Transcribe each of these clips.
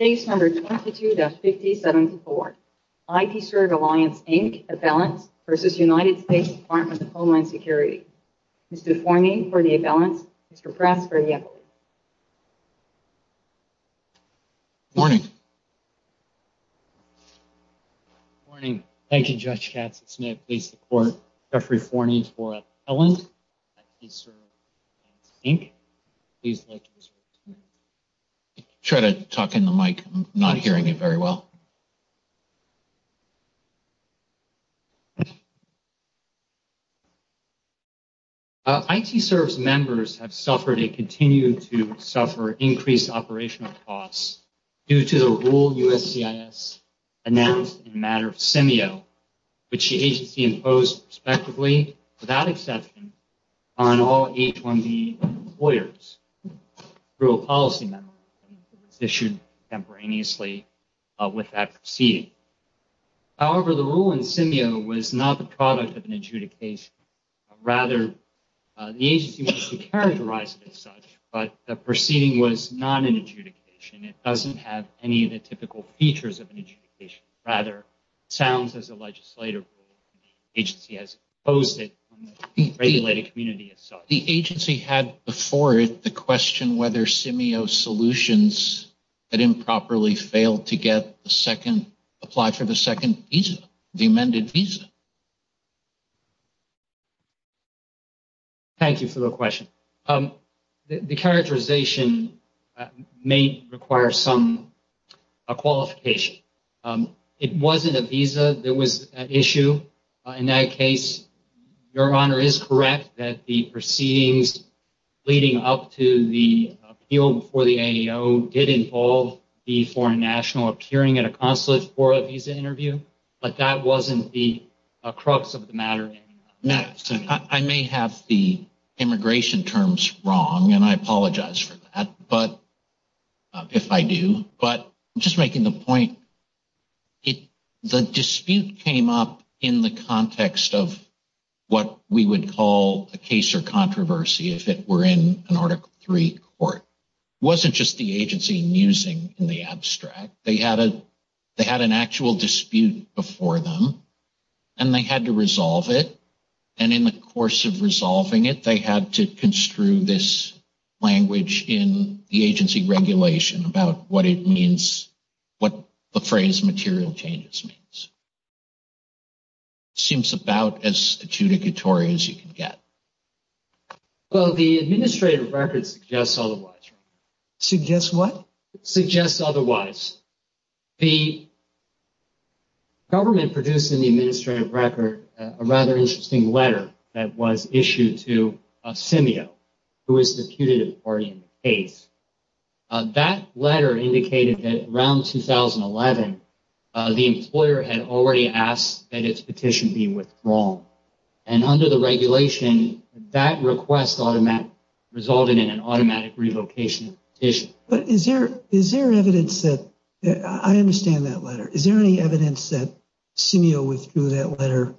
Case No. 22-57-4 ITServe Alliance, Inc. Appellants v. United States Department of Homeland Security Mr. Forney for the appellants, Mr. Press for the appellants Good morning Good morning, thank you Judge Katzen, may I please report Jeffrey Forney for appellants ITServe Alliance, Inc. I try to talk into the mic, I'm not hearing it very well ITServe's members have suffered and continue to suffer increased operational costs due to the rule USCIS announced in the matter of SEMEO which the agency imposed prospectively, without exception, on all H-1B employers through a policy memo issued contemporaneously with that proceeding However, the rule in SEMEO was not the product of an adjudication Rather, the agency wants to characterize it as such, but the proceeding was not an adjudication It doesn't have any of the typical features of an adjudication Rather, it sounds as a legislative rule, the agency has imposed it on the regulated community The agency had before it the question whether SEMEO solutions that improperly failed to get the second apply for the second visa, the amended visa Thank you for the question The characterization may require some qualification It wasn't a visa that was at issue in that case Your Honor is correct that the proceedings leading up to the appeal for the AEO did involve the foreign national appearing at a consulate for a visa interview But that wasn't the crux of the matter I may have the immigration terms wrong, and I apologize for that, if I do But just making the point, the dispute came up in the context of what we would call a case or controversy if it were in an Article III court It wasn't just the agency musing in the abstract They had an actual dispute before them, and they had to resolve it And in the course of resolving it, they had to construe this language in the agency regulation about what it means, what the phrase material changes means Seems about as adjudicatory as you can get Well, the administrative records suggest otherwise Suggest what? Suggests otherwise The government produced in the administrative record a rather interesting letter that was issued to Simio who is the putative party in the case That letter indicated that around 2011, the employer had already asked that its petition be withdrawn And under the regulation, that request resulted in an automatic revocation of the petition But is there evidence that, I understand that letter Is there any evidence that Simio withdrew that letter,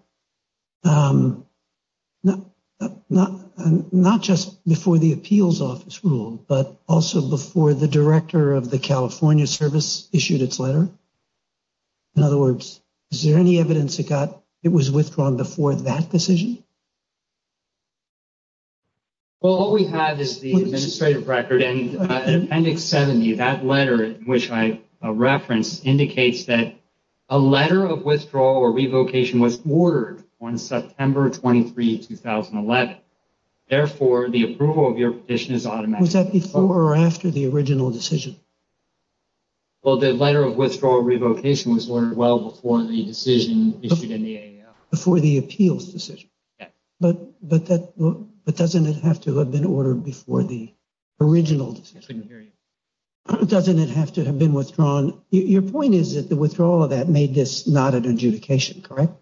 not just before the appeals office ruled but also before the director of the California service issued its letter? In other words, is there any evidence it was withdrawn before that decision? Well, all we have is the administrative record and Appendix 70 That letter, which I referenced, indicates that a letter of withdrawal or revocation was ordered on September 23, 2011 Therefore, the approval of your petition is automatic Was that before or after the original decision? Well, the letter of withdrawal or revocation was ordered well before the decision issued in the AAL Before the appeals decision But doesn't it have to have been ordered before the original decision? I couldn't hear you Doesn't it have to have been withdrawn? Your point is that the withdrawal of that made this not an adjudication, correct?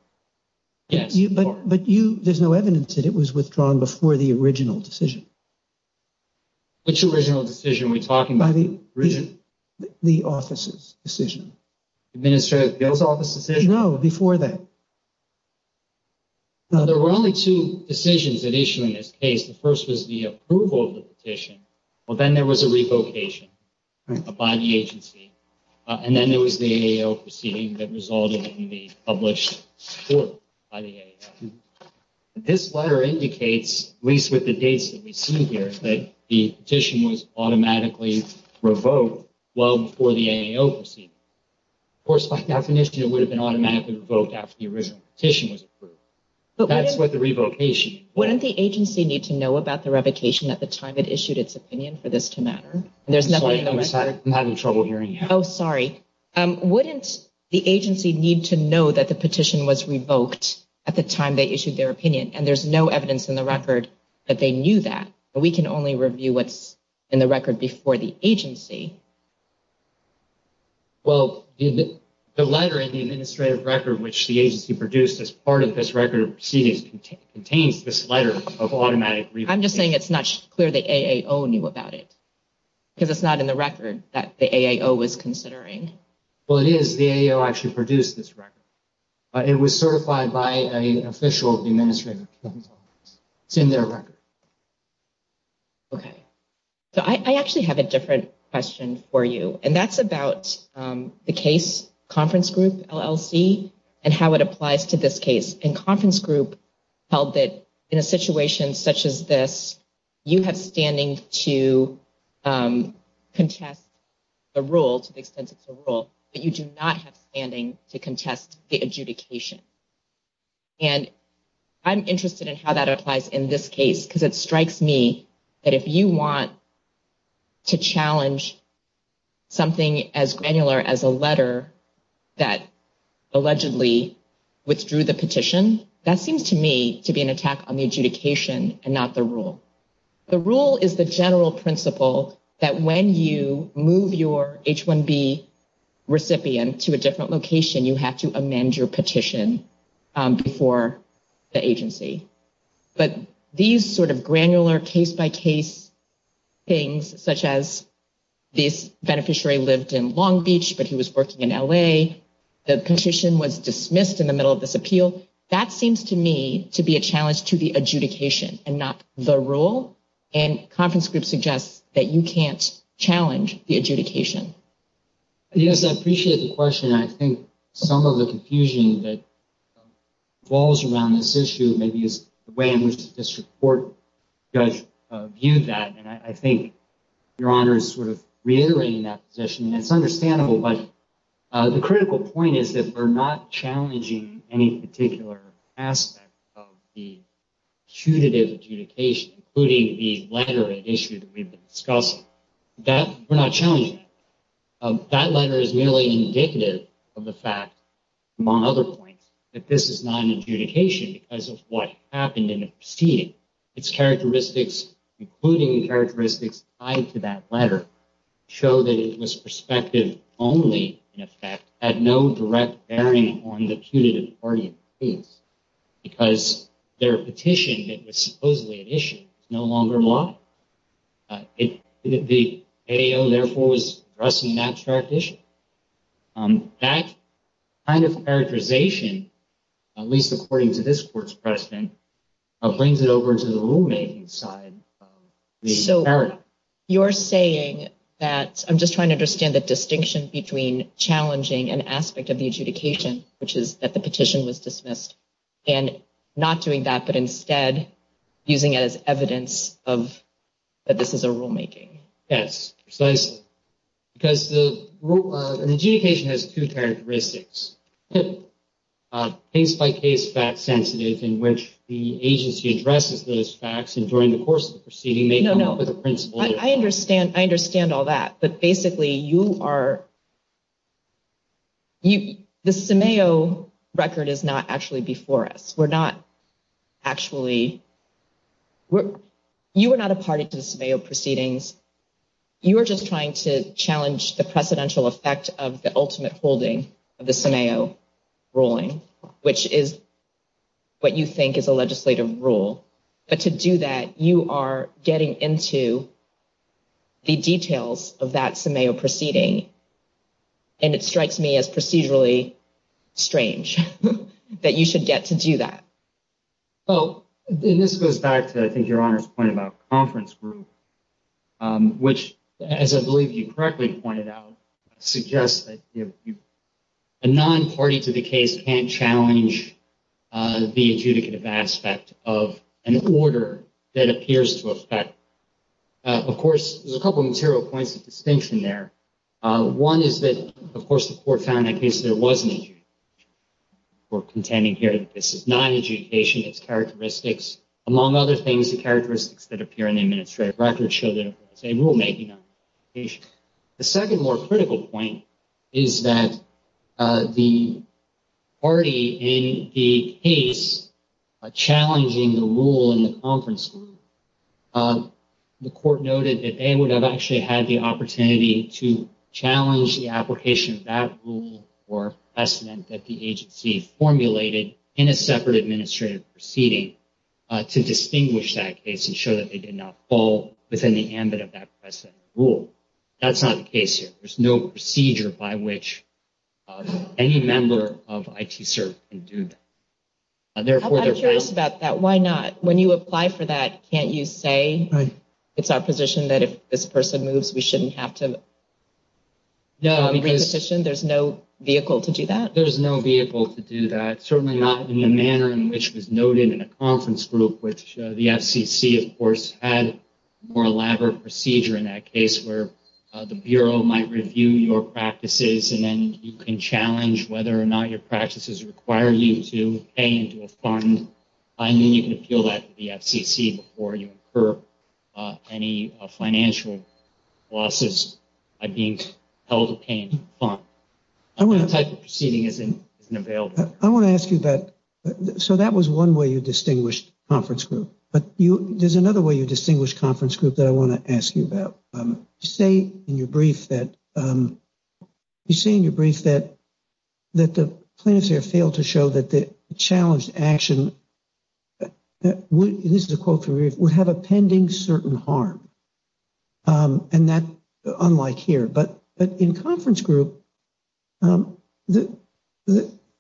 Yes But there's no evidence that it was withdrawn before the original decision Which original decision are we talking about? The offices decision Administrative appeals office decision? No, before that No, there were only two decisions that issued in this case The first was the approval of the petition Well, then there was a revocation by the agency And then there was the AAL proceeding that resulted in the published report by the AAL This letter indicates, at least with the dates that we see here, that the petition was automatically revoked well before the AAL proceeding Of course, by definition, it would have been automatically revoked after the original petition was approved That's what the revocation is Wouldn't the agency need to know about the revocation at the time it issued its opinion for this to matter? I'm sorry, I'm having trouble hearing you Oh, sorry Wouldn't the agency need to know that the petition was revoked at the time they issued their opinion? And there's no evidence in the record that they knew that We can only review what's in the record before the agency Well, the letter in the administrative record, which the agency produced as part of this record of proceedings, contains this letter of automatic revocation I'm just saying it's not clear the AAL knew about it Because it's not in the record that the AAL was considering Well, it is. The AAL actually produced this record It was certified by an official of the administrative appeals office It's in their record Okay So I actually have a different question for you And that's about the case conference group, LLC, and how it applies to this case And conference group held that in a situation such as this, you have standing to contest the rule, to the extent it's a rule But you do not have standing to contest the adjudication And I'm interested in how that applies in this case Because it strikes me that if you want to challenge something as granular as a letter that allegedly withdrew the petition That seems to me to be an attack on the adjudication and not the rule The rule is the general principle that when you move your H-1B recipient to a different location, you have to amend your petition before the agency But these sort of granular case-by-case things, such as this beneficiary lived in Long Beach, but he was working in L.A. The petition was dismissed in the middle of this appeal So that seems to me to be a challenge to the adjudication and not the rule And conference group suggests that you can't challenge the adjudication Yes, I appreciate the question I think some of the confusion that falls around this issue maybe is the way in which the district court judge viewed that And I think Your Honor is sort of reiterating that position And it's understandable, but the critical point is that we're not challenging any particular aspect of the punitive adjudication Including the letter issue that we've discussed We're not challenging that That letter is merely indicative of the fact, among other points, that this is not an adjudication because of what happened in the proceeding Its characteristics, including the characteristics tied to that letter, show that it was perspective only, in effect Had no direct bearing on the punitive argument Because their petition that was supposedly an issue is no longer law The DAO, therefore, was addressing an abstract issue That kind of characterization, at least according to this court's precedent, brings it over to the rulemaking side So you're saying that, I'm just trying to understand the distinction between challenging an aspect of the adjudication, which is that the petition was dismissed And not doing that, but instead using it as evidence that this is a rulemaking Yes, precisely Because an adjudication has two characteristics Case-by-case, fact-sensitive, in which the agency addresses those facts, and during the course of the proceeding may come up with a principle I understand all that, but basically you are The CMAO record is not actually before us You are not a party to the CMAO proceedings You are just trying to challenge the precedential effect of the ultimate holding of the CMAO ruling Which is what you think is a legislative rule But to do that, you are getting into the details of that CMAO proceeding And it strikes me as procedurally strange that you should get to do that Oh, and this goes back to, I think, Your Honor's point about conference group Which, as I believe you correctly pointed out, suggests that a non-party to the case can't challenge the adjudicative aspect of an order that appears to affect Of course, there's a couple of material points of distinction there One is that, of course, the court found in that case there was an adjudication We're contending here that this is not an adjudication, it's characteristics Among other things, the characteristics that appear in the administrative record show that it's a rulemaking The second more critical point is that the party in the case challenging the rule in the conference group The court noted that they would have actually had the opportunity to challenge the application of that rule Or precedent that the agency formulated in a separate administrative proceeding To distinguish that case and show that they did not fall within the ambit of that precedent rule That's not the case here There's no procedure by which any member of ITSERP can do that I'm curious about that, why not? When you apply for that, can't you say, it's our position that if this person moves, we shouldn't have to No, because There's no vehicle to do that? There's no vehicle to do that, certainly not in the manner in which was noted in a conference group Which the FCC, of course, had a more elaborate procedure in that case Where the Bureau might review your practices and then you can challenge whether or not your practices require you to pay into a fund And then you can appeal that to the FCC before you incur any financial losses by being held to pay into a fund That type of proceeding isn't available I want to ask you about, so that was one way you distinguished conference group But there's another way you distinguished conference group that I want to ask you about You say in your brief that the plaintiffs here failed to show that the challenged action This is a quote from your brief, would have a pending certain harm And that's unlike here But in conference group,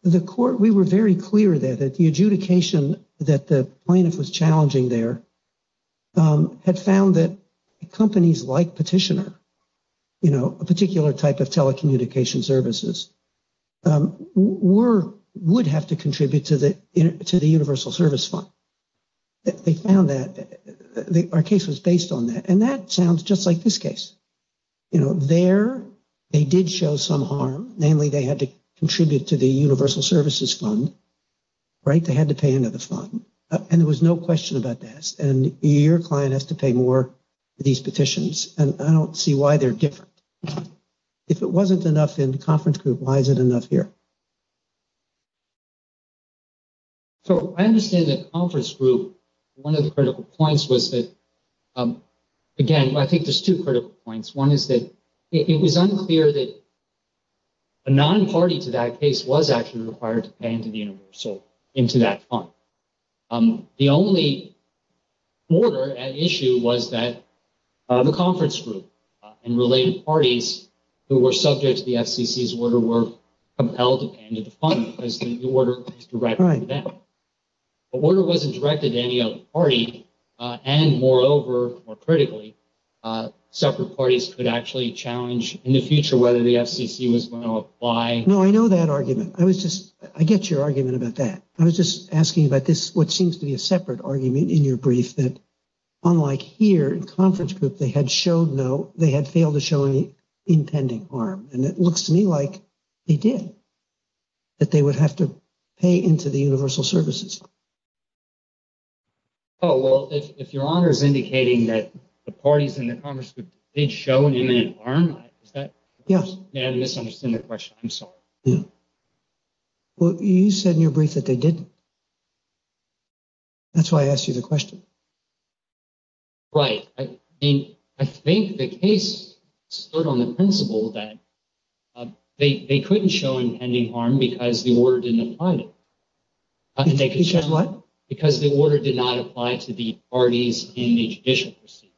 the court, we were very clear there that the adjudication that the plaintiff was challenging there Had found that companies like petitioner, you know, a particular type of telecommunication services Were would have to contribute to the universal service fund They found that our case was based on that And that sounds just like this case, you know, there they did show some harm Namely, they had to contribute to the universal services fund Right, they had to pay into the fund And there was no question about this And your client has to pay more for these petitions And I don't see why they're different If it wasn't enough in conference group, why is it enough here? So I understand that conference group, one of the critical points was that Again, I think there's two critical points One is that it was unclear that a non-party to that case was actually required to pay into the universal, into that fund The only order at issue was that the conference group and related parties who were subject to the FCC's order were compelled to pay into the fund Because the order was directed to them The order wasn't directed to any other party And moreover, more critically, separate parties could actually challenge in the future whether the FCC was going to apply No, I know that argument I was just, I get your argument about that I was just asking about this, what seems to be a separate argument in your brief That unlike here in conference group, they had showed no, they had failed to show any impending harm And it looks to me like they did, that they would have to pay into the universal services Oh, well, if your honor is indicating that the parties in the conference group did show an imminent harm, is that Yeah Yeah, I misunderstood the question, I'm sorry Yeah Well, you said in your brief that they didn't That's why I asked you the question Right, I mean, I think the case stood on the principle that they couldn't show impending harm because the order didn't apply to them Because the order did not apply to the parties in the judicial procedure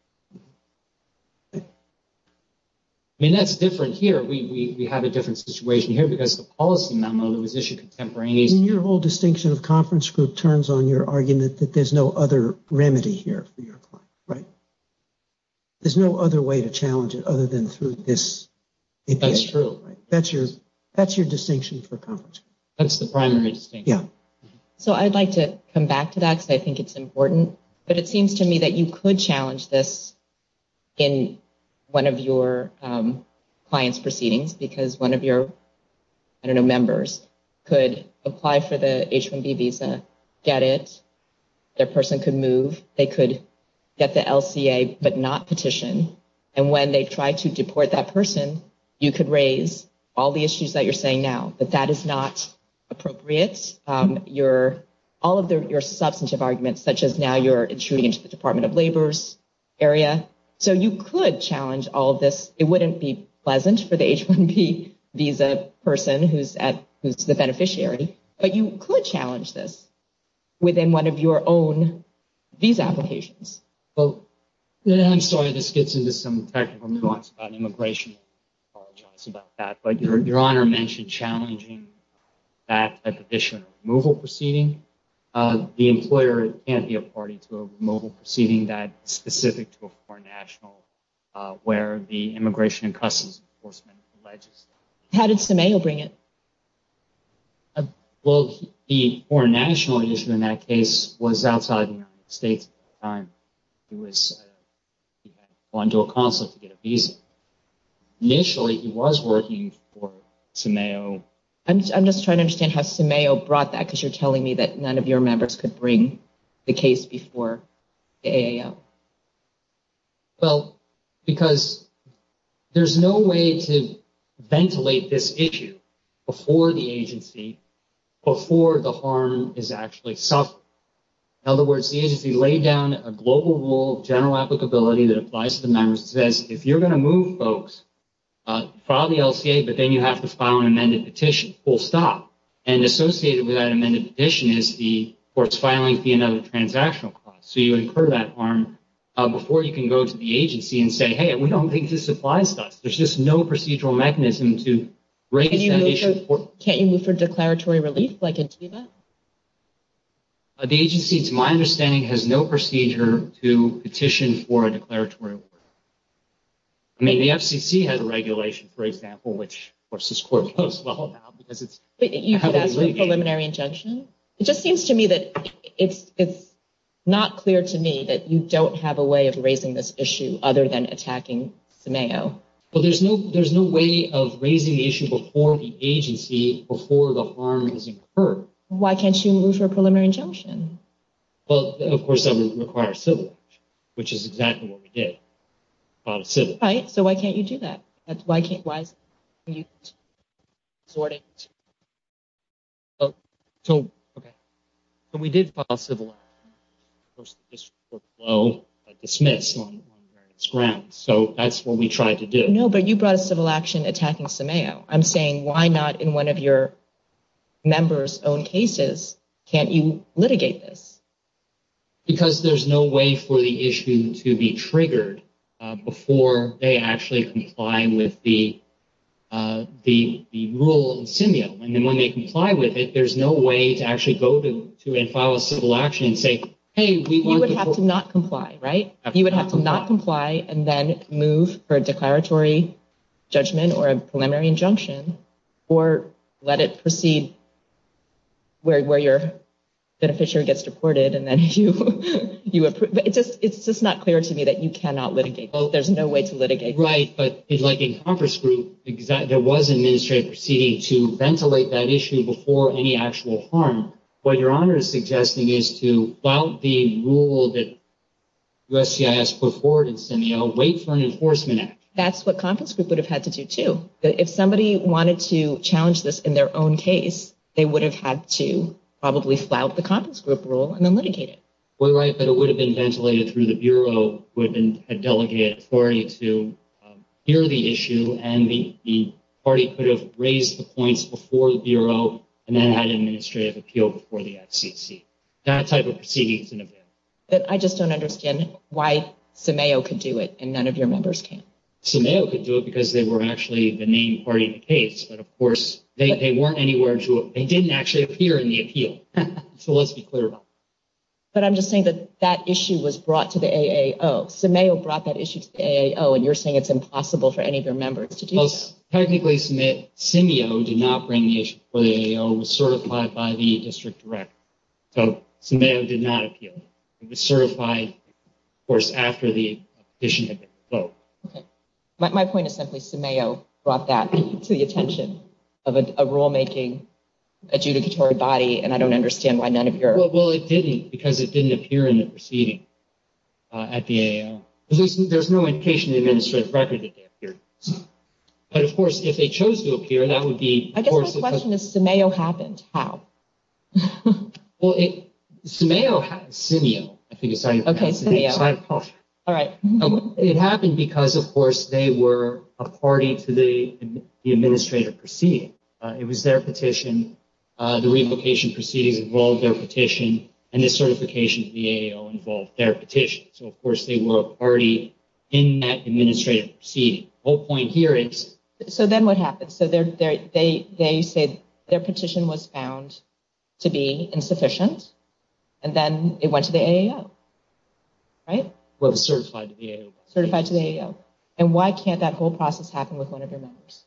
I mean, that's different here, we have a different situation here because the policy memo that was issued contemporaneously I mean, your whole distinction of conference group turns on your argument that there's no other remedy here for your client, right? There's no other way to challenge it other than through this That's true That's your distinction for conference group That's the primary distinction Yeah So I'd like to come back to that because I think it's important But it seems to me that you could challenge this in one of your client's proceedings Because one of your, I don't know, members could apply for the H-1B visa, get it Their person could move, they could get the LCA but not petition And when they try to deport that person, you could raise all the issues that you're saying now But that is not appropriate All of your substantive arguments, such as now you're intruding into the Department of Labor's area So you could challenge all of this, it wouldn't be pleasant for the H-1B visa person who's the beneficiary But you could challenge this within one of your own visa applications I'm sorry, this gets into some technical nuance about immigration, I apologize about that But your honor mentioned challenging that petition removal proceeding The employer can't be a party to a removal proceeding that is specific to a foreign national Where the Immigration and Customs Enforcement alleges How did Simeo bring it? Well, the foreign national issue in that case was outside of the United States at the time He had gone to a consulate to get a visa Initially he was working for Simeo I'm just trying to understand how Simeo brought that Because you're telling me that none of your members could bring the case before the AAL Well, because there's no way to ventilate this issue before the agency Before the harm is actually suffered In other words, the agency laid down a global rule of general applicability that applies to the members It says if you're going to move folks, file the LCA But then you have to file an amended petition, full stop And associated with that amended petition is the court's filing fee and other transactional costs So you incur that harm before you can go to the agency and say Hey, we don't think this applies to us There's just no procedural mechanism to raise that issue Can't you move for declaratory relief? The agency, to my understanding, has no procedure to petition for a declaratory relief I mean, the FCC had a regulation, for example, which of course this court knows well now But you could ask for a preliminary injunction? It just seems to me that it's not clear to me that you don't have a way of raising this issue Other than attacking Simeo Well, there's no way of raising the issue before the agency, before the harm is incurred Why can't you move for a preliminary injunction? Well, of course that would require civil action, which is exactly what we did Right, so why can't you do that? Why can't you sort it? Oh, so, okay So we did file a civil action Of course, this court will dismiss on various grounds So that's what we tried to do No, but you brought a civil action attacking Simeo I'm saying, why not in one of your members' own cases, can't you litigate this? Because there's no way for the issue to be triggered before they actually comply with the rule in Simeo And when they comply with it, there's no way to actually go to and file a civil action and say You would have to not comply, right? You would have to not comply and then move for a declaratory judgment or a preliminary injunction Or let it proceed where your beneficiary gets deported and then you approve It's just not clear to me that you cannot litigate There's no way to litigate Right, but like in Conference Group, there was an administrative proceeding to ventilate that issue before any actual harm What Your Honor is suggesting is to, about the rule that USCIS put forward in Simeo, wait for an enforcement act That's what Conference Group would have had to do, too So if somebody wanted to challenge this in their own case, they would have had to probably file the Conference Group rule and then litigate it We're right, but it would have been ventilated through the Bureau who had delegated authority to hear the issue And the party could have raised the points before the Bureau and then had an administrative appeal before the FCC That type of proceeding is unavailable I just don't understand why Simeo could do it and none of your members can Simeo could do it because they were actually the main party in the case But of course, they weren't anywhere to, they didn't actually appear in the appeal So let's be clear about that But I'm just saying that that issue was brought to the AAO Simeo brought that issue to the AAO and you're saying it's impossible for any of your members to do that Technically, Simeo did not bring the issue to the AAO, it was certified by the district director So Simeo did not appeal It was certified, of course, after the petition had been revoked My point is simply Simeo brought that to the attention of a rulemaking adjudicatory body And I don't understand why none of your Well, it didn't because it didn't appear in the proceeding at the AAO There's no indication in the administrative record that they appeared But of course, if they chose to appear, that would be I guess my question is Simeo happened, how? Well, Simeo, Simeo, I think is how you pronounce it Okay, Simeo It happened because, of course, they were a party to the administrative proceeding It was their petition, the revocation proceedings involved their petition And the certification of the AAO involved their petition So of course, they were a party in that administrative proceeding The whole point here is So then what happened? So they say their petition was found to be insufficient And then it went to the AAO, right? Well, it was certified to the AAO Certified to the AAO And why can't that whole process happen with one of your members?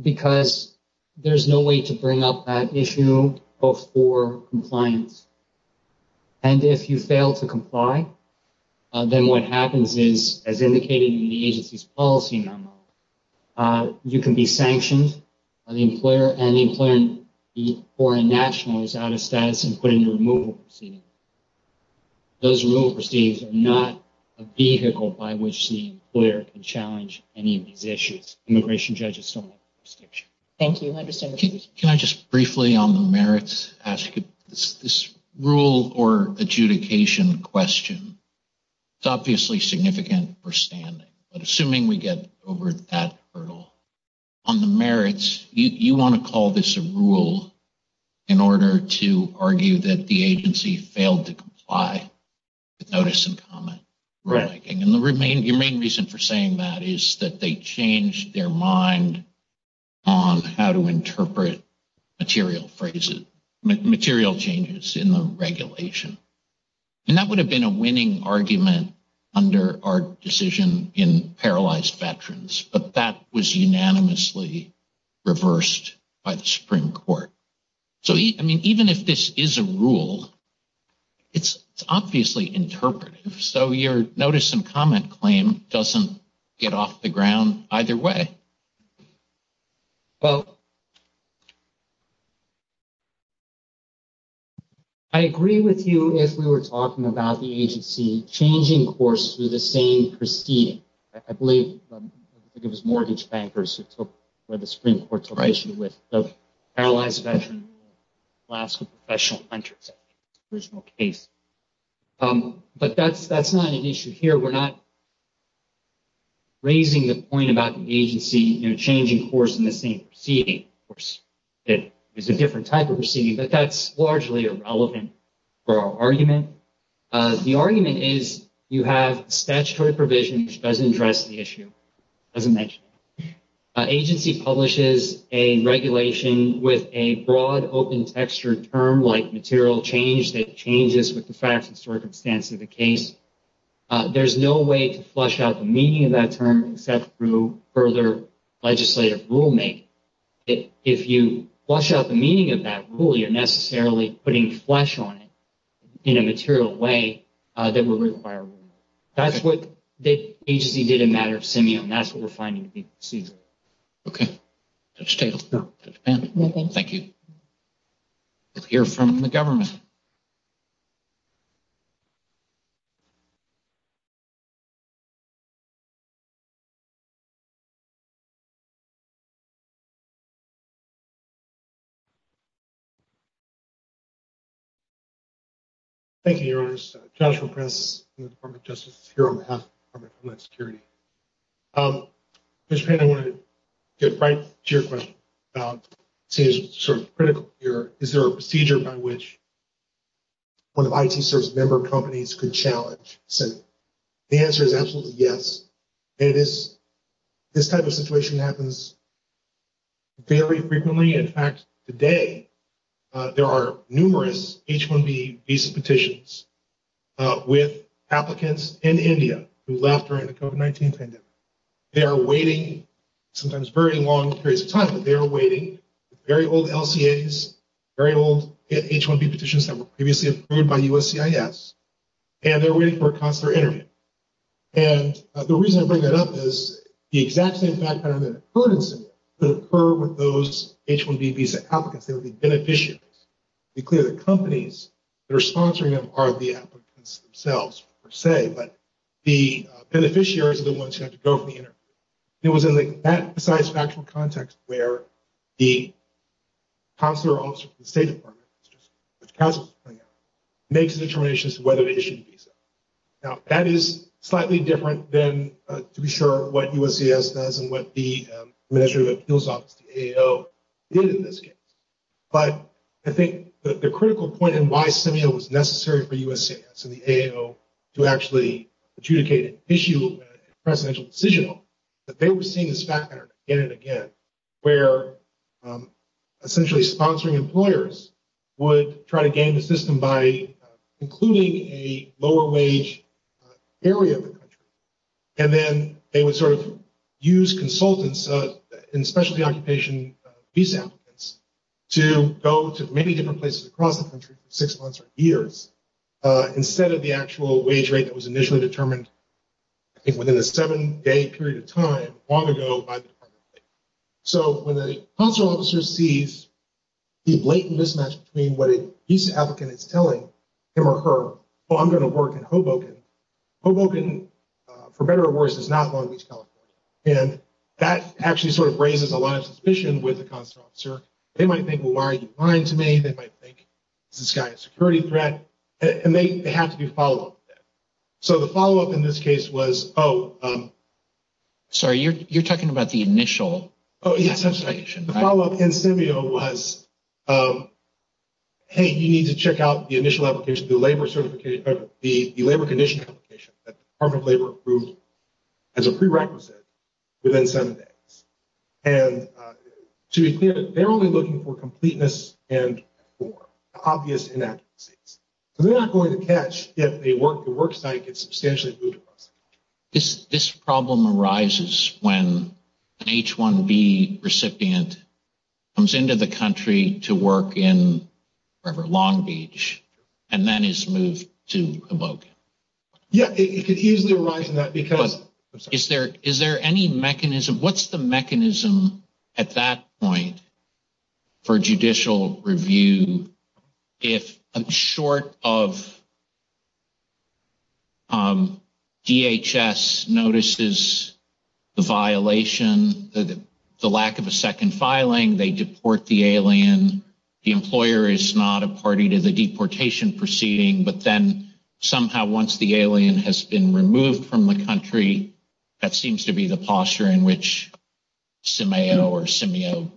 Because there's no way to bring up that issue before compliance And if you fail to comply, then what happens is As indicated in the agency's policy memo You can be sanctioned by the employer And the employer or a national is out of status and put into removal proceedings Those removal proceedings are not a vehicle by which the employer can challenge any of these issues Immigration judges don't have a prescription Thank you, I understand Can I just briefly on the merits ask This rule or adjudication question It's obviously significant for standing But assuming we get over that hurdle On the merits, you want to call this a rule In order to argue that the agency failed to comply With notice and comment Right And the main reason for saying that is that they changed their mind On how to interpret material phrases Material changes in the regulation And that would have been a winning argument under our decision in paralyzed veterans But that was unanimously reversed by the Supreme Court So, I mean, even if this is a rule It's obviously interpretive So your notice and comment claim doesn't get off the ground either way Well I agree with you if we were talking about the agency changing course through the same proceeding I believe it was mortgage bankers who took where the Supreme Court to raise you with the paralyzed veteran Lasko professional entrance Original case But that's that's not an issue here We're not Raising the point about the agency changing course in the same proceeding It is a different type of proceeding, but that's largely irrelevant For our argument The argument is you have statutory provision which doesn't address the issue As an agency publishes a regulation with a broad open textured term like material change That changes with the facts and circumstances of the case There's no way to flush out the meaning of that term Except through further legislative rulemaking If you flush out the meaning of that rule, you're necessarily putting flesh on it In a material way that will require That's what the agency did in matter of simian That's what we're finding Okay Thank you Hear from the government Thank you Thank you, your honors Joshua press Justice Security I want to get right to your question Seems sort of critical here Is there a procedure by which One of IT service member companies could challenge The answer is absolutely yes It is This type of situation happens Very frequently In fact, today There are numerous H1B visa petitions With applicants in India who left during the COVID-19 pandemic They are waiting Sometimes very long periods of time But they are waiting Very old LCA's Very old H1B petitions that were previously approved by USCIS And they're waiting for a consular interview And the reason I bring that up is The exact same fact kind of occurrences Could occur with those H1B visa applicants They would be beneficiaries To be clear, the companies that are sponsoring them Are the applicants themselves per se But the beneficiaries are the ones who have to go for the interview It was in that precise factual context Where the consular officer from the State Department Which counsels are coming out Makes a determination as to whether they issued a visa Now, that is slightly different than To be sure, what USCIS does And what the Administrative Appeals Office, the AAO Did in this case But I think the critical point And why SEMEO was necessary for USCIS and the AAO To actually adjudicate an issue Presidential decisional That they were seeing this fact pattern again and again Where essentially sponsoring employers Would try to gain the system by Including a lower wage area of the country And then they would sort of use consultants And specialty occupation visa applicants To go to many different places across the country For six months or years Instead of the actual wage rate that was initially determined I think within a seven-day period of time Long ago by the Department of Labor So when the consular officer sees The blatant mismatch between what a visa applicant is telling Him or her, oh, I'm going to work in Hoboken Hoboken, for better or worse, is not Long Beach, California And that actually sort of raises a lot of suspicion With the consular officer They might think, well, why are you lying to me? They might think this guy is a security threat And they have to be followed up with that So the follow-up in this case was, oh Sorry, you're talking about the initial Oh, yes, I'm sorry The follow-up in SEMEO was Hey, you need to check out the initial application The labor condition application That the Department of Labor approved As a prerequisite within seven days And to be clear, they're only looking for completeness And obvious inaccuracies So they're not going to catch if a work site Gets substantially moved across This problem arises when An H-1B recipient Comes into the country to work in River Long Beach And then is moved to Hoboken Yeah, it could easily arise in that because Is there any mechanism What's the mechanism at that point For judicial review If short of DHS notices The violation, the lack of a second filing They deport the alien The employer is not a party to the deportation proceeding But then somehow once the alien has been Removed from the country That seems to be the posture in which SEMEO or SEMEO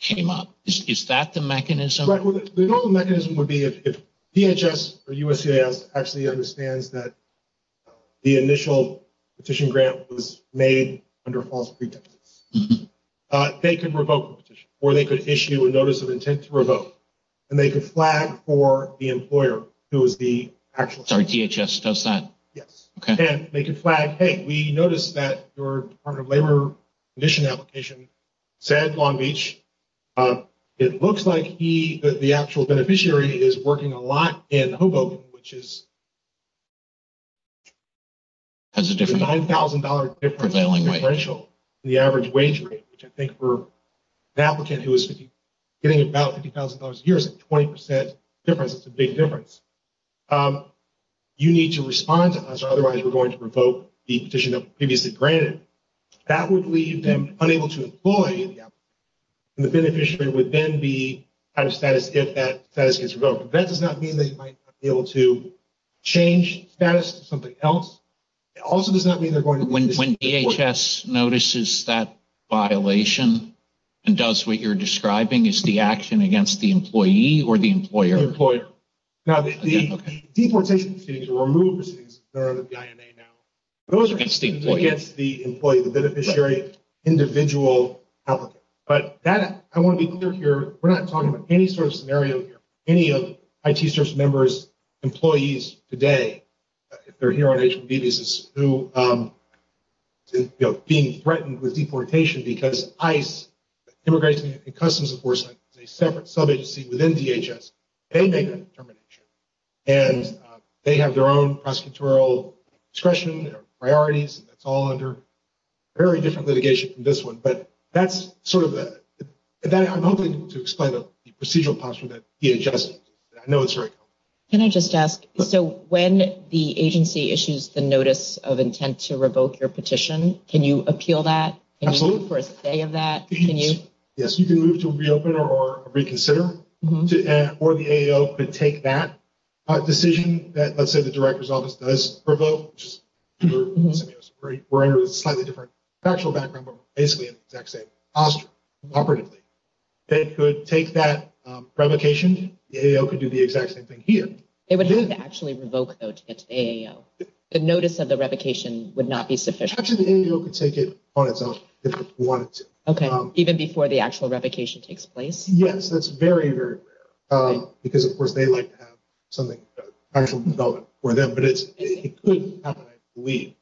came up Is that the mechanism? The normal mechanism would be if DHS Or USCIS actually understands that The initial petition grant was made Under false pretenses They could revoke the petition Or they could issue a notice of intent to revoke And they could flag for the employer Who is the actual Sorry, DHS does that? Yes. And they could flag, hey, we noticed that Your Department of Labor condition application Said Long Beach It looks like he, the actual beneficiary Is working a lot in Hoboken, which is That's a different $9,000 difference in the average wage rate Which I think for an applicant who is Getting about $50,000 a year is a 20% difference It's a big difference You need to respond to us Otherwise we're going to revoke the petition That was previously granted That would leave them unable to employ And the beneficiary would then be Out of status if that status gets revoked But that does not mean they might not be able to Change status to something else It also does not mean they're going to When DHS notices that violation And does what you're describing Is the action against the employee Or the employer? The employer Now, the deportation proceedings Or removal proceedings Those are against the employee The beneficiary, individual applicant But that, I want to be clear here We're not talking about any sort of scenario here Any of IT Service members, employees today If they're here on H-1B visas Who are being threatened with deportation Because ICE, Immigration and Customs Enforcement Is a separate sub-agency within DHS They make that determination And they have their own prosecutorial discretion Priorities It's all under very different litigation than this one But that's sort of the I'm hoping to explain the procedural posture that DHS I know it's very complicated Can I just ask So when the agency issues the notice Of intent to revoke your petition Can you appeal that? Absolutely For a stay of that? Yes, you can move to reopen or reconsider Or the AAO could take that decision That let's say the director's office does revoke Which is slightly different Actual background, but basically the exact same Posture, operatively They could take that revocation The AAO could do the exact same thing here It would have to actually revoke though to get to the AAO The notice of the revocation would not be sufficient Actually, the AAO could take it on itself If it wanted to Okay, even before the actual revocation takes place? Yes, that's very, very rare Because of course they like to have something Actual development for them But it couldn't happen, I believe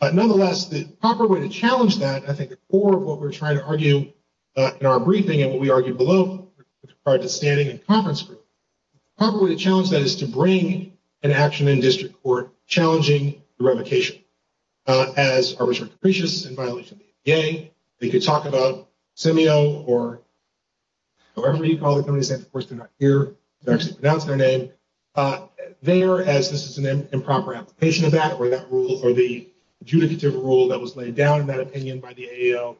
But nonetheless, the proper way to challenge that I think the core of what we're trying to argue In our briefing and what we argued below With regard to standing and conference room The proper way to challenge that is to bring As arbitrary capricious in violation of the ADA They could talk about SEMEO or However you call it, of course they're not here They're actually pronouncing their name There, as this is an improper application of that Or the adjudicative rule that was laid down In that opinion by the AAO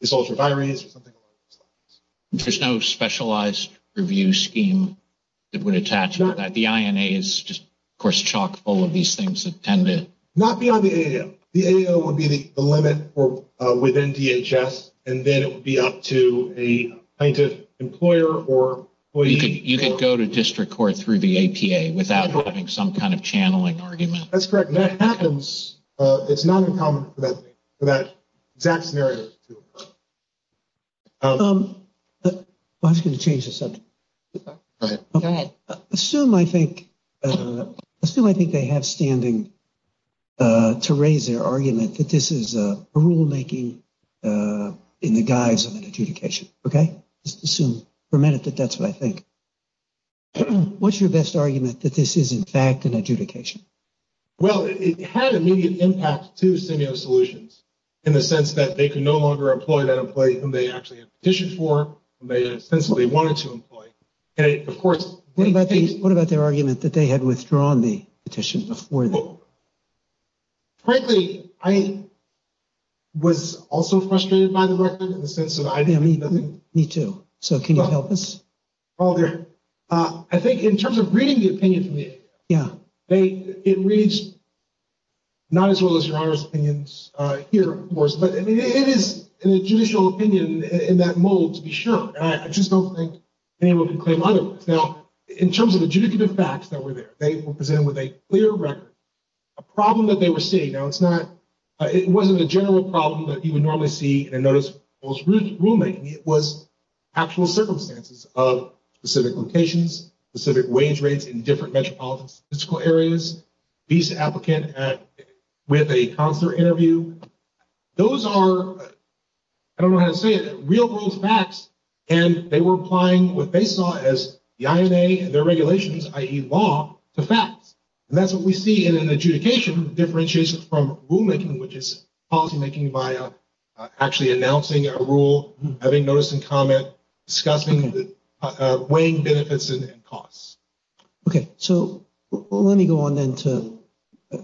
This ultra-virus or something along those lines There's no specialized review scheme That would attach to that The INA is just, of course, chock full of these things That tend to Not beyond the AAO The AAO would be the limit within DHS And then it would be up to a plaintiff, employer or You could go to district court through the APA Without having some kind of channeling argument That's correct, that happens It's not uncommon for that exact scenario I was going to change the subject Go ahead Assume I think Assume I think they have standing To raise their argument that this is a rulemaking In the guise of an adjudication, okay? Assume for a minute that that's what I think What's your best argument that this is in fact an adjudication? Well, it had immediate impact to SEMEO Solutions In the sense that they could no longer employ that employee Whom they actually had petitioned for Whom they essentially wanted to employ And of course What about their argument that they had withdrawn the petition before? Frankly, I was also frustrated by the record In the sense that I didn't Me too So can you help us? Well, I think in terms of reading the opinion from the APA Yeah It reads not as well as Your Honor's opinions here, of course But it is in a judicial opinion in that mold to be sure I just don't think anyone can claim otherwise Now, in terms of the adjudicative facts that were there They were presented with a clear record A problem that they were seeing Now, it's not It wasn't a general problem that you would normally see In a notice of rulemaking It was actual circumstances of specific locations Specific wage rates in different metropolitan statistical areas Visa applicant with a counselor interview Those are, I don't know how to say it, real world facts And they were applying what they saw as the INA Their regulations, i.e. law, to facts And that's what we see in an adjudication Differentiation from rulemaking, which is policymaking By actually announcing a rule, having notice and comment Discussing the weighing benefits and costs Okay, so let me go on then to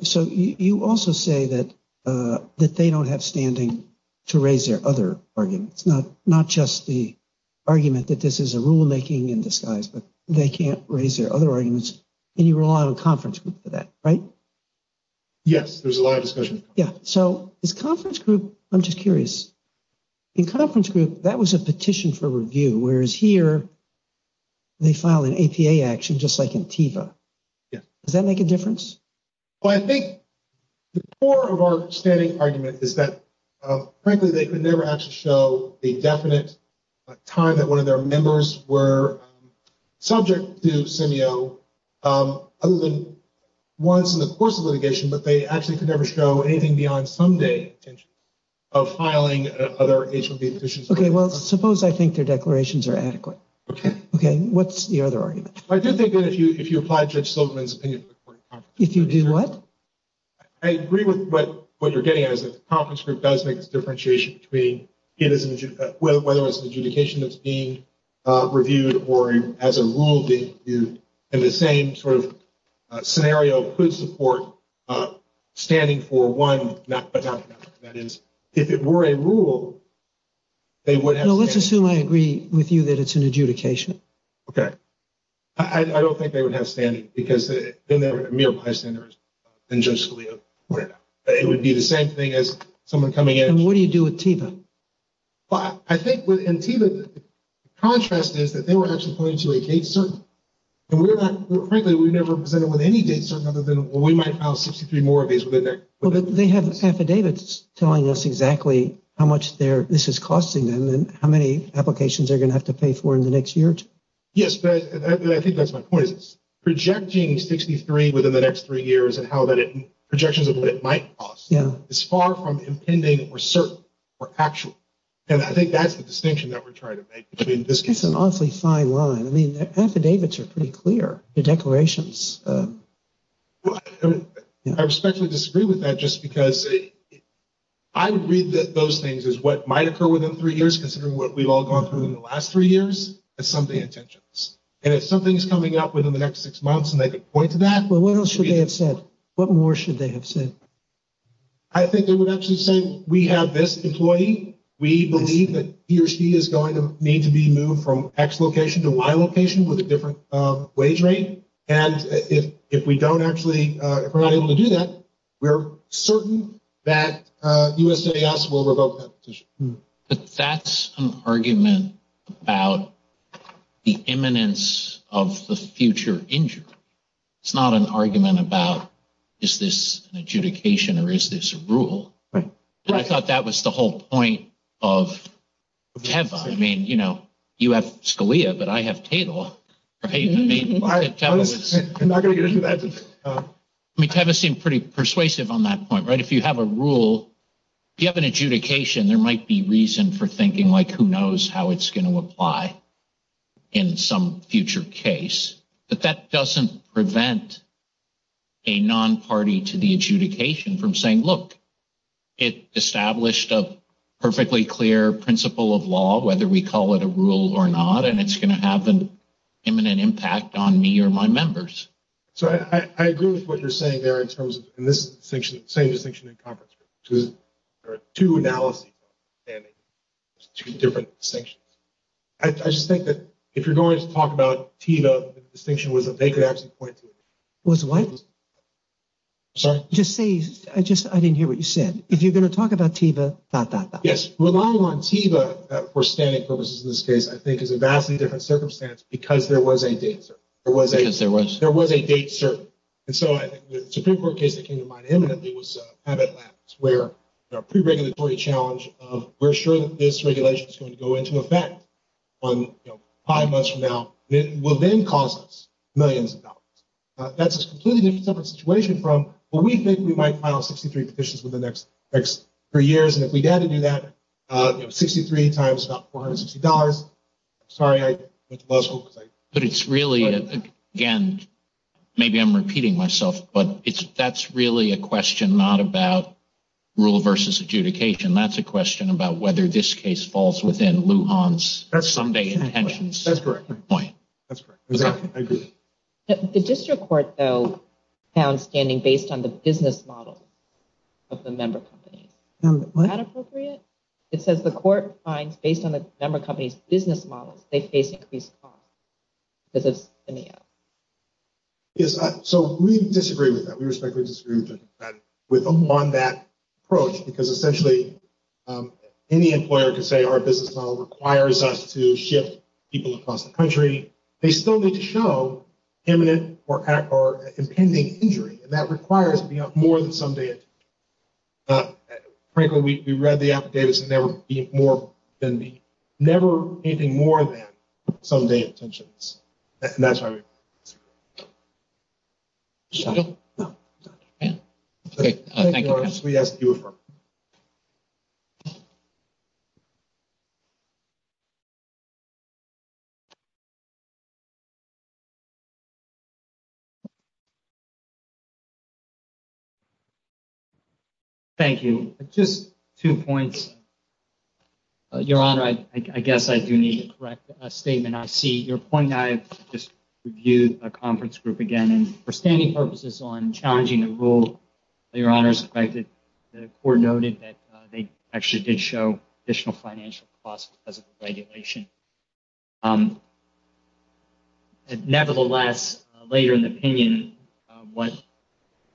So you also say that they don't have standing To raise their other arguments It's not just the argument that this is a rulemaking in disguise But they can't raise their other arguments And you rely on a conference group for that, right? Yes, there's a lot of discussion Yeah, so this conference group, I'm just curious In conference group, that was a petition for review Whereas here, they file an APA action just like in TIFA Does that make a difference? Well, I think the core of our standing argument is that Frankly, they could never actually show the definite time That one of their members were subject to SEMEO Other than once in the course of litigation But they actually could never show anything beyond Some day of filing other H-1B petitions Okay, well, suppose I think their declarations are adequate Okay, what's the other argument? I do think that if you apply Judge Silverman's opinion If you do what? I agree with what you're getting at Because the conference group does make a differentiation Between whether it's an adjudication that's being reviewed Or as a rule being reviewed And the same sort of scenario could support standing for one That is, if it were a rule, they would have standing Well, let's assume I agree with you that it's an adjudication Okay, I don't think they would have standing Because they're never mere bystanders than Judge Scalia It would be the same thing as someone coming in And what do you do with TEVA? Well, I think with TEVA, the contrast is that They were actually pointing to a date certain And frankly, we've never presented with any date certain Other than, well, we might file 63 more of these Well, but they have affidavits telling us exactly How much this is costing them And how many applications they're going to have to pay for In the next year or two Yes, but I think that's my point It's projecting 63 within the next three years And projections of what it might cost It's far from impending or certain or actual And I think that's the distinction that we're trying to make It's an awfully fine line I mean, the affidavits are pretty clear The declarations Well, I respectfully disagree with that Just because I would read those things as What might occur within three years Considering what we've all gone through in the last three years As something intentions And if something's coming up within the next six months And they could point to that Well, what else should they have said? What more should they have said? I think they would actually say We have this employee We believe that he or she is going to need to be moved From X location to Y location With a different wage rate And if we don't actually If we're not able to do that We're certain that U.S.A.S. will revoke that petition But that's an argument about The imminence of the future injury It's not an argument about Is this an adjudication or is this a rule? Right And I thought that was the whole point of TEVA I mean, you know, you have Scalia, but I have Tatel Right? I'm not going to get into that I mean, TEVA seemed pretty persuasive on that point, right? If you have a rule If you have an adjudication There might be reason for thinking Like, who knows how it's going to apply In some future case But that doesn't prevent A non-party to the adjudication from saying Look, it established a perfectly clear principle of law Whether we call it a rule or not And it's going to have an imminent impact on me or my members So I agree with what you're saying there In terms of this same distinction in conference room Because there are two analyses And two different distinctions I just think that if you're going to talk about TEVA The distinction was that they could actually point to it Was what? Sorry? Just say, I didn't hear what you said If you're going to talk about TEVA, dot, dot, dot Yes, relying on TEVA for standing purposes in this case I think is a vastly different circumstance Because there was a date certain Because there was There was a date certain And so I think the Supreme Court case that came to mind Imminently was Habit Labs Where a pre-regulatory challenge of We're sure that this regulation is going to go into effect On five months from now Will then cost us millions of dollars That's a completely different situation from What we think we might file 63 petitions Within the next three years And if we had to do that 63 times about $460 Sorry, I went to law school But it's really, again Maybe I'm repeating myself But that's really a question Not about rule versus adjudication That's a question about whether this case Falls within Lujan's Someday intentions That's correct That's correct I agree The district court, though Found standing based on the business model Of the member companies What? Is that appropriate? It says the court finds Based on the member companies' business models They face increased costs Does this stand out? Yes, so we disagree with that We respectfully disagree with that On that approach Because essentially Any employer could say Our business model requires us to Shift people across the country They still need to show Imminent or impending injury And that requires more than Someday intentions Frankly, we read the affidavits And there would be more than Never anything more than Someday intentions And that's why we Shut up? Okay, thank you We ask that you affirm Thank you Thank you Just two points Your Honor, I guess I do need to correct a statement I see your point I've just reviewed the conference group again And for standing purposes on challenging the rule Your Honor's expected The court noted that They actually did show Additional financial costs because of the regulation Nevertheless Later in the opinion What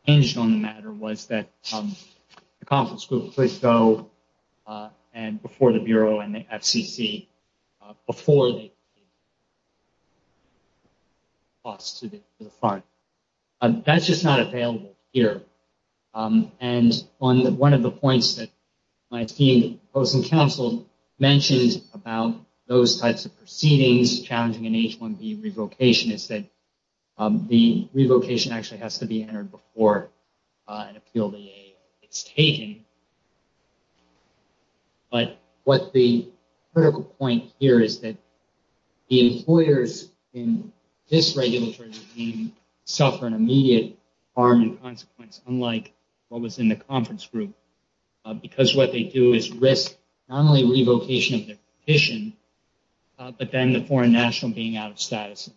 changed on the matter Was that The conference group would go Before the Bureau and the FCC Before they That's just not available Here And on One of the points that My team Mentioned about those types of Proceedings challenging an H-1B Revocation is that The revocation actually has to be Entered before It's taken But what the Critical point here is that The employers in This regulatory regime Suffer an immediate Harm and consequence unlike What was in the conference group Because what they do is risk Not only revocation of their petition But then the foreign national Being out of status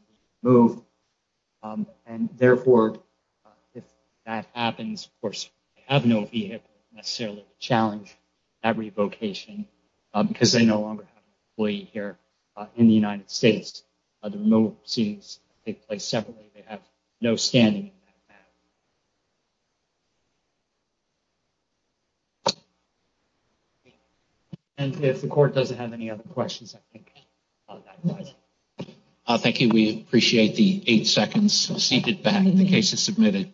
And therefore If that happens Of course they have no vehicle To necessarily challenge That revocation Because they no longer have an employee here In the United States The remote proceedings Take place separately They have no standing And if the court doesn't have Any other questions Thank you We appreciate the eight seconds Seated back, the case is submitted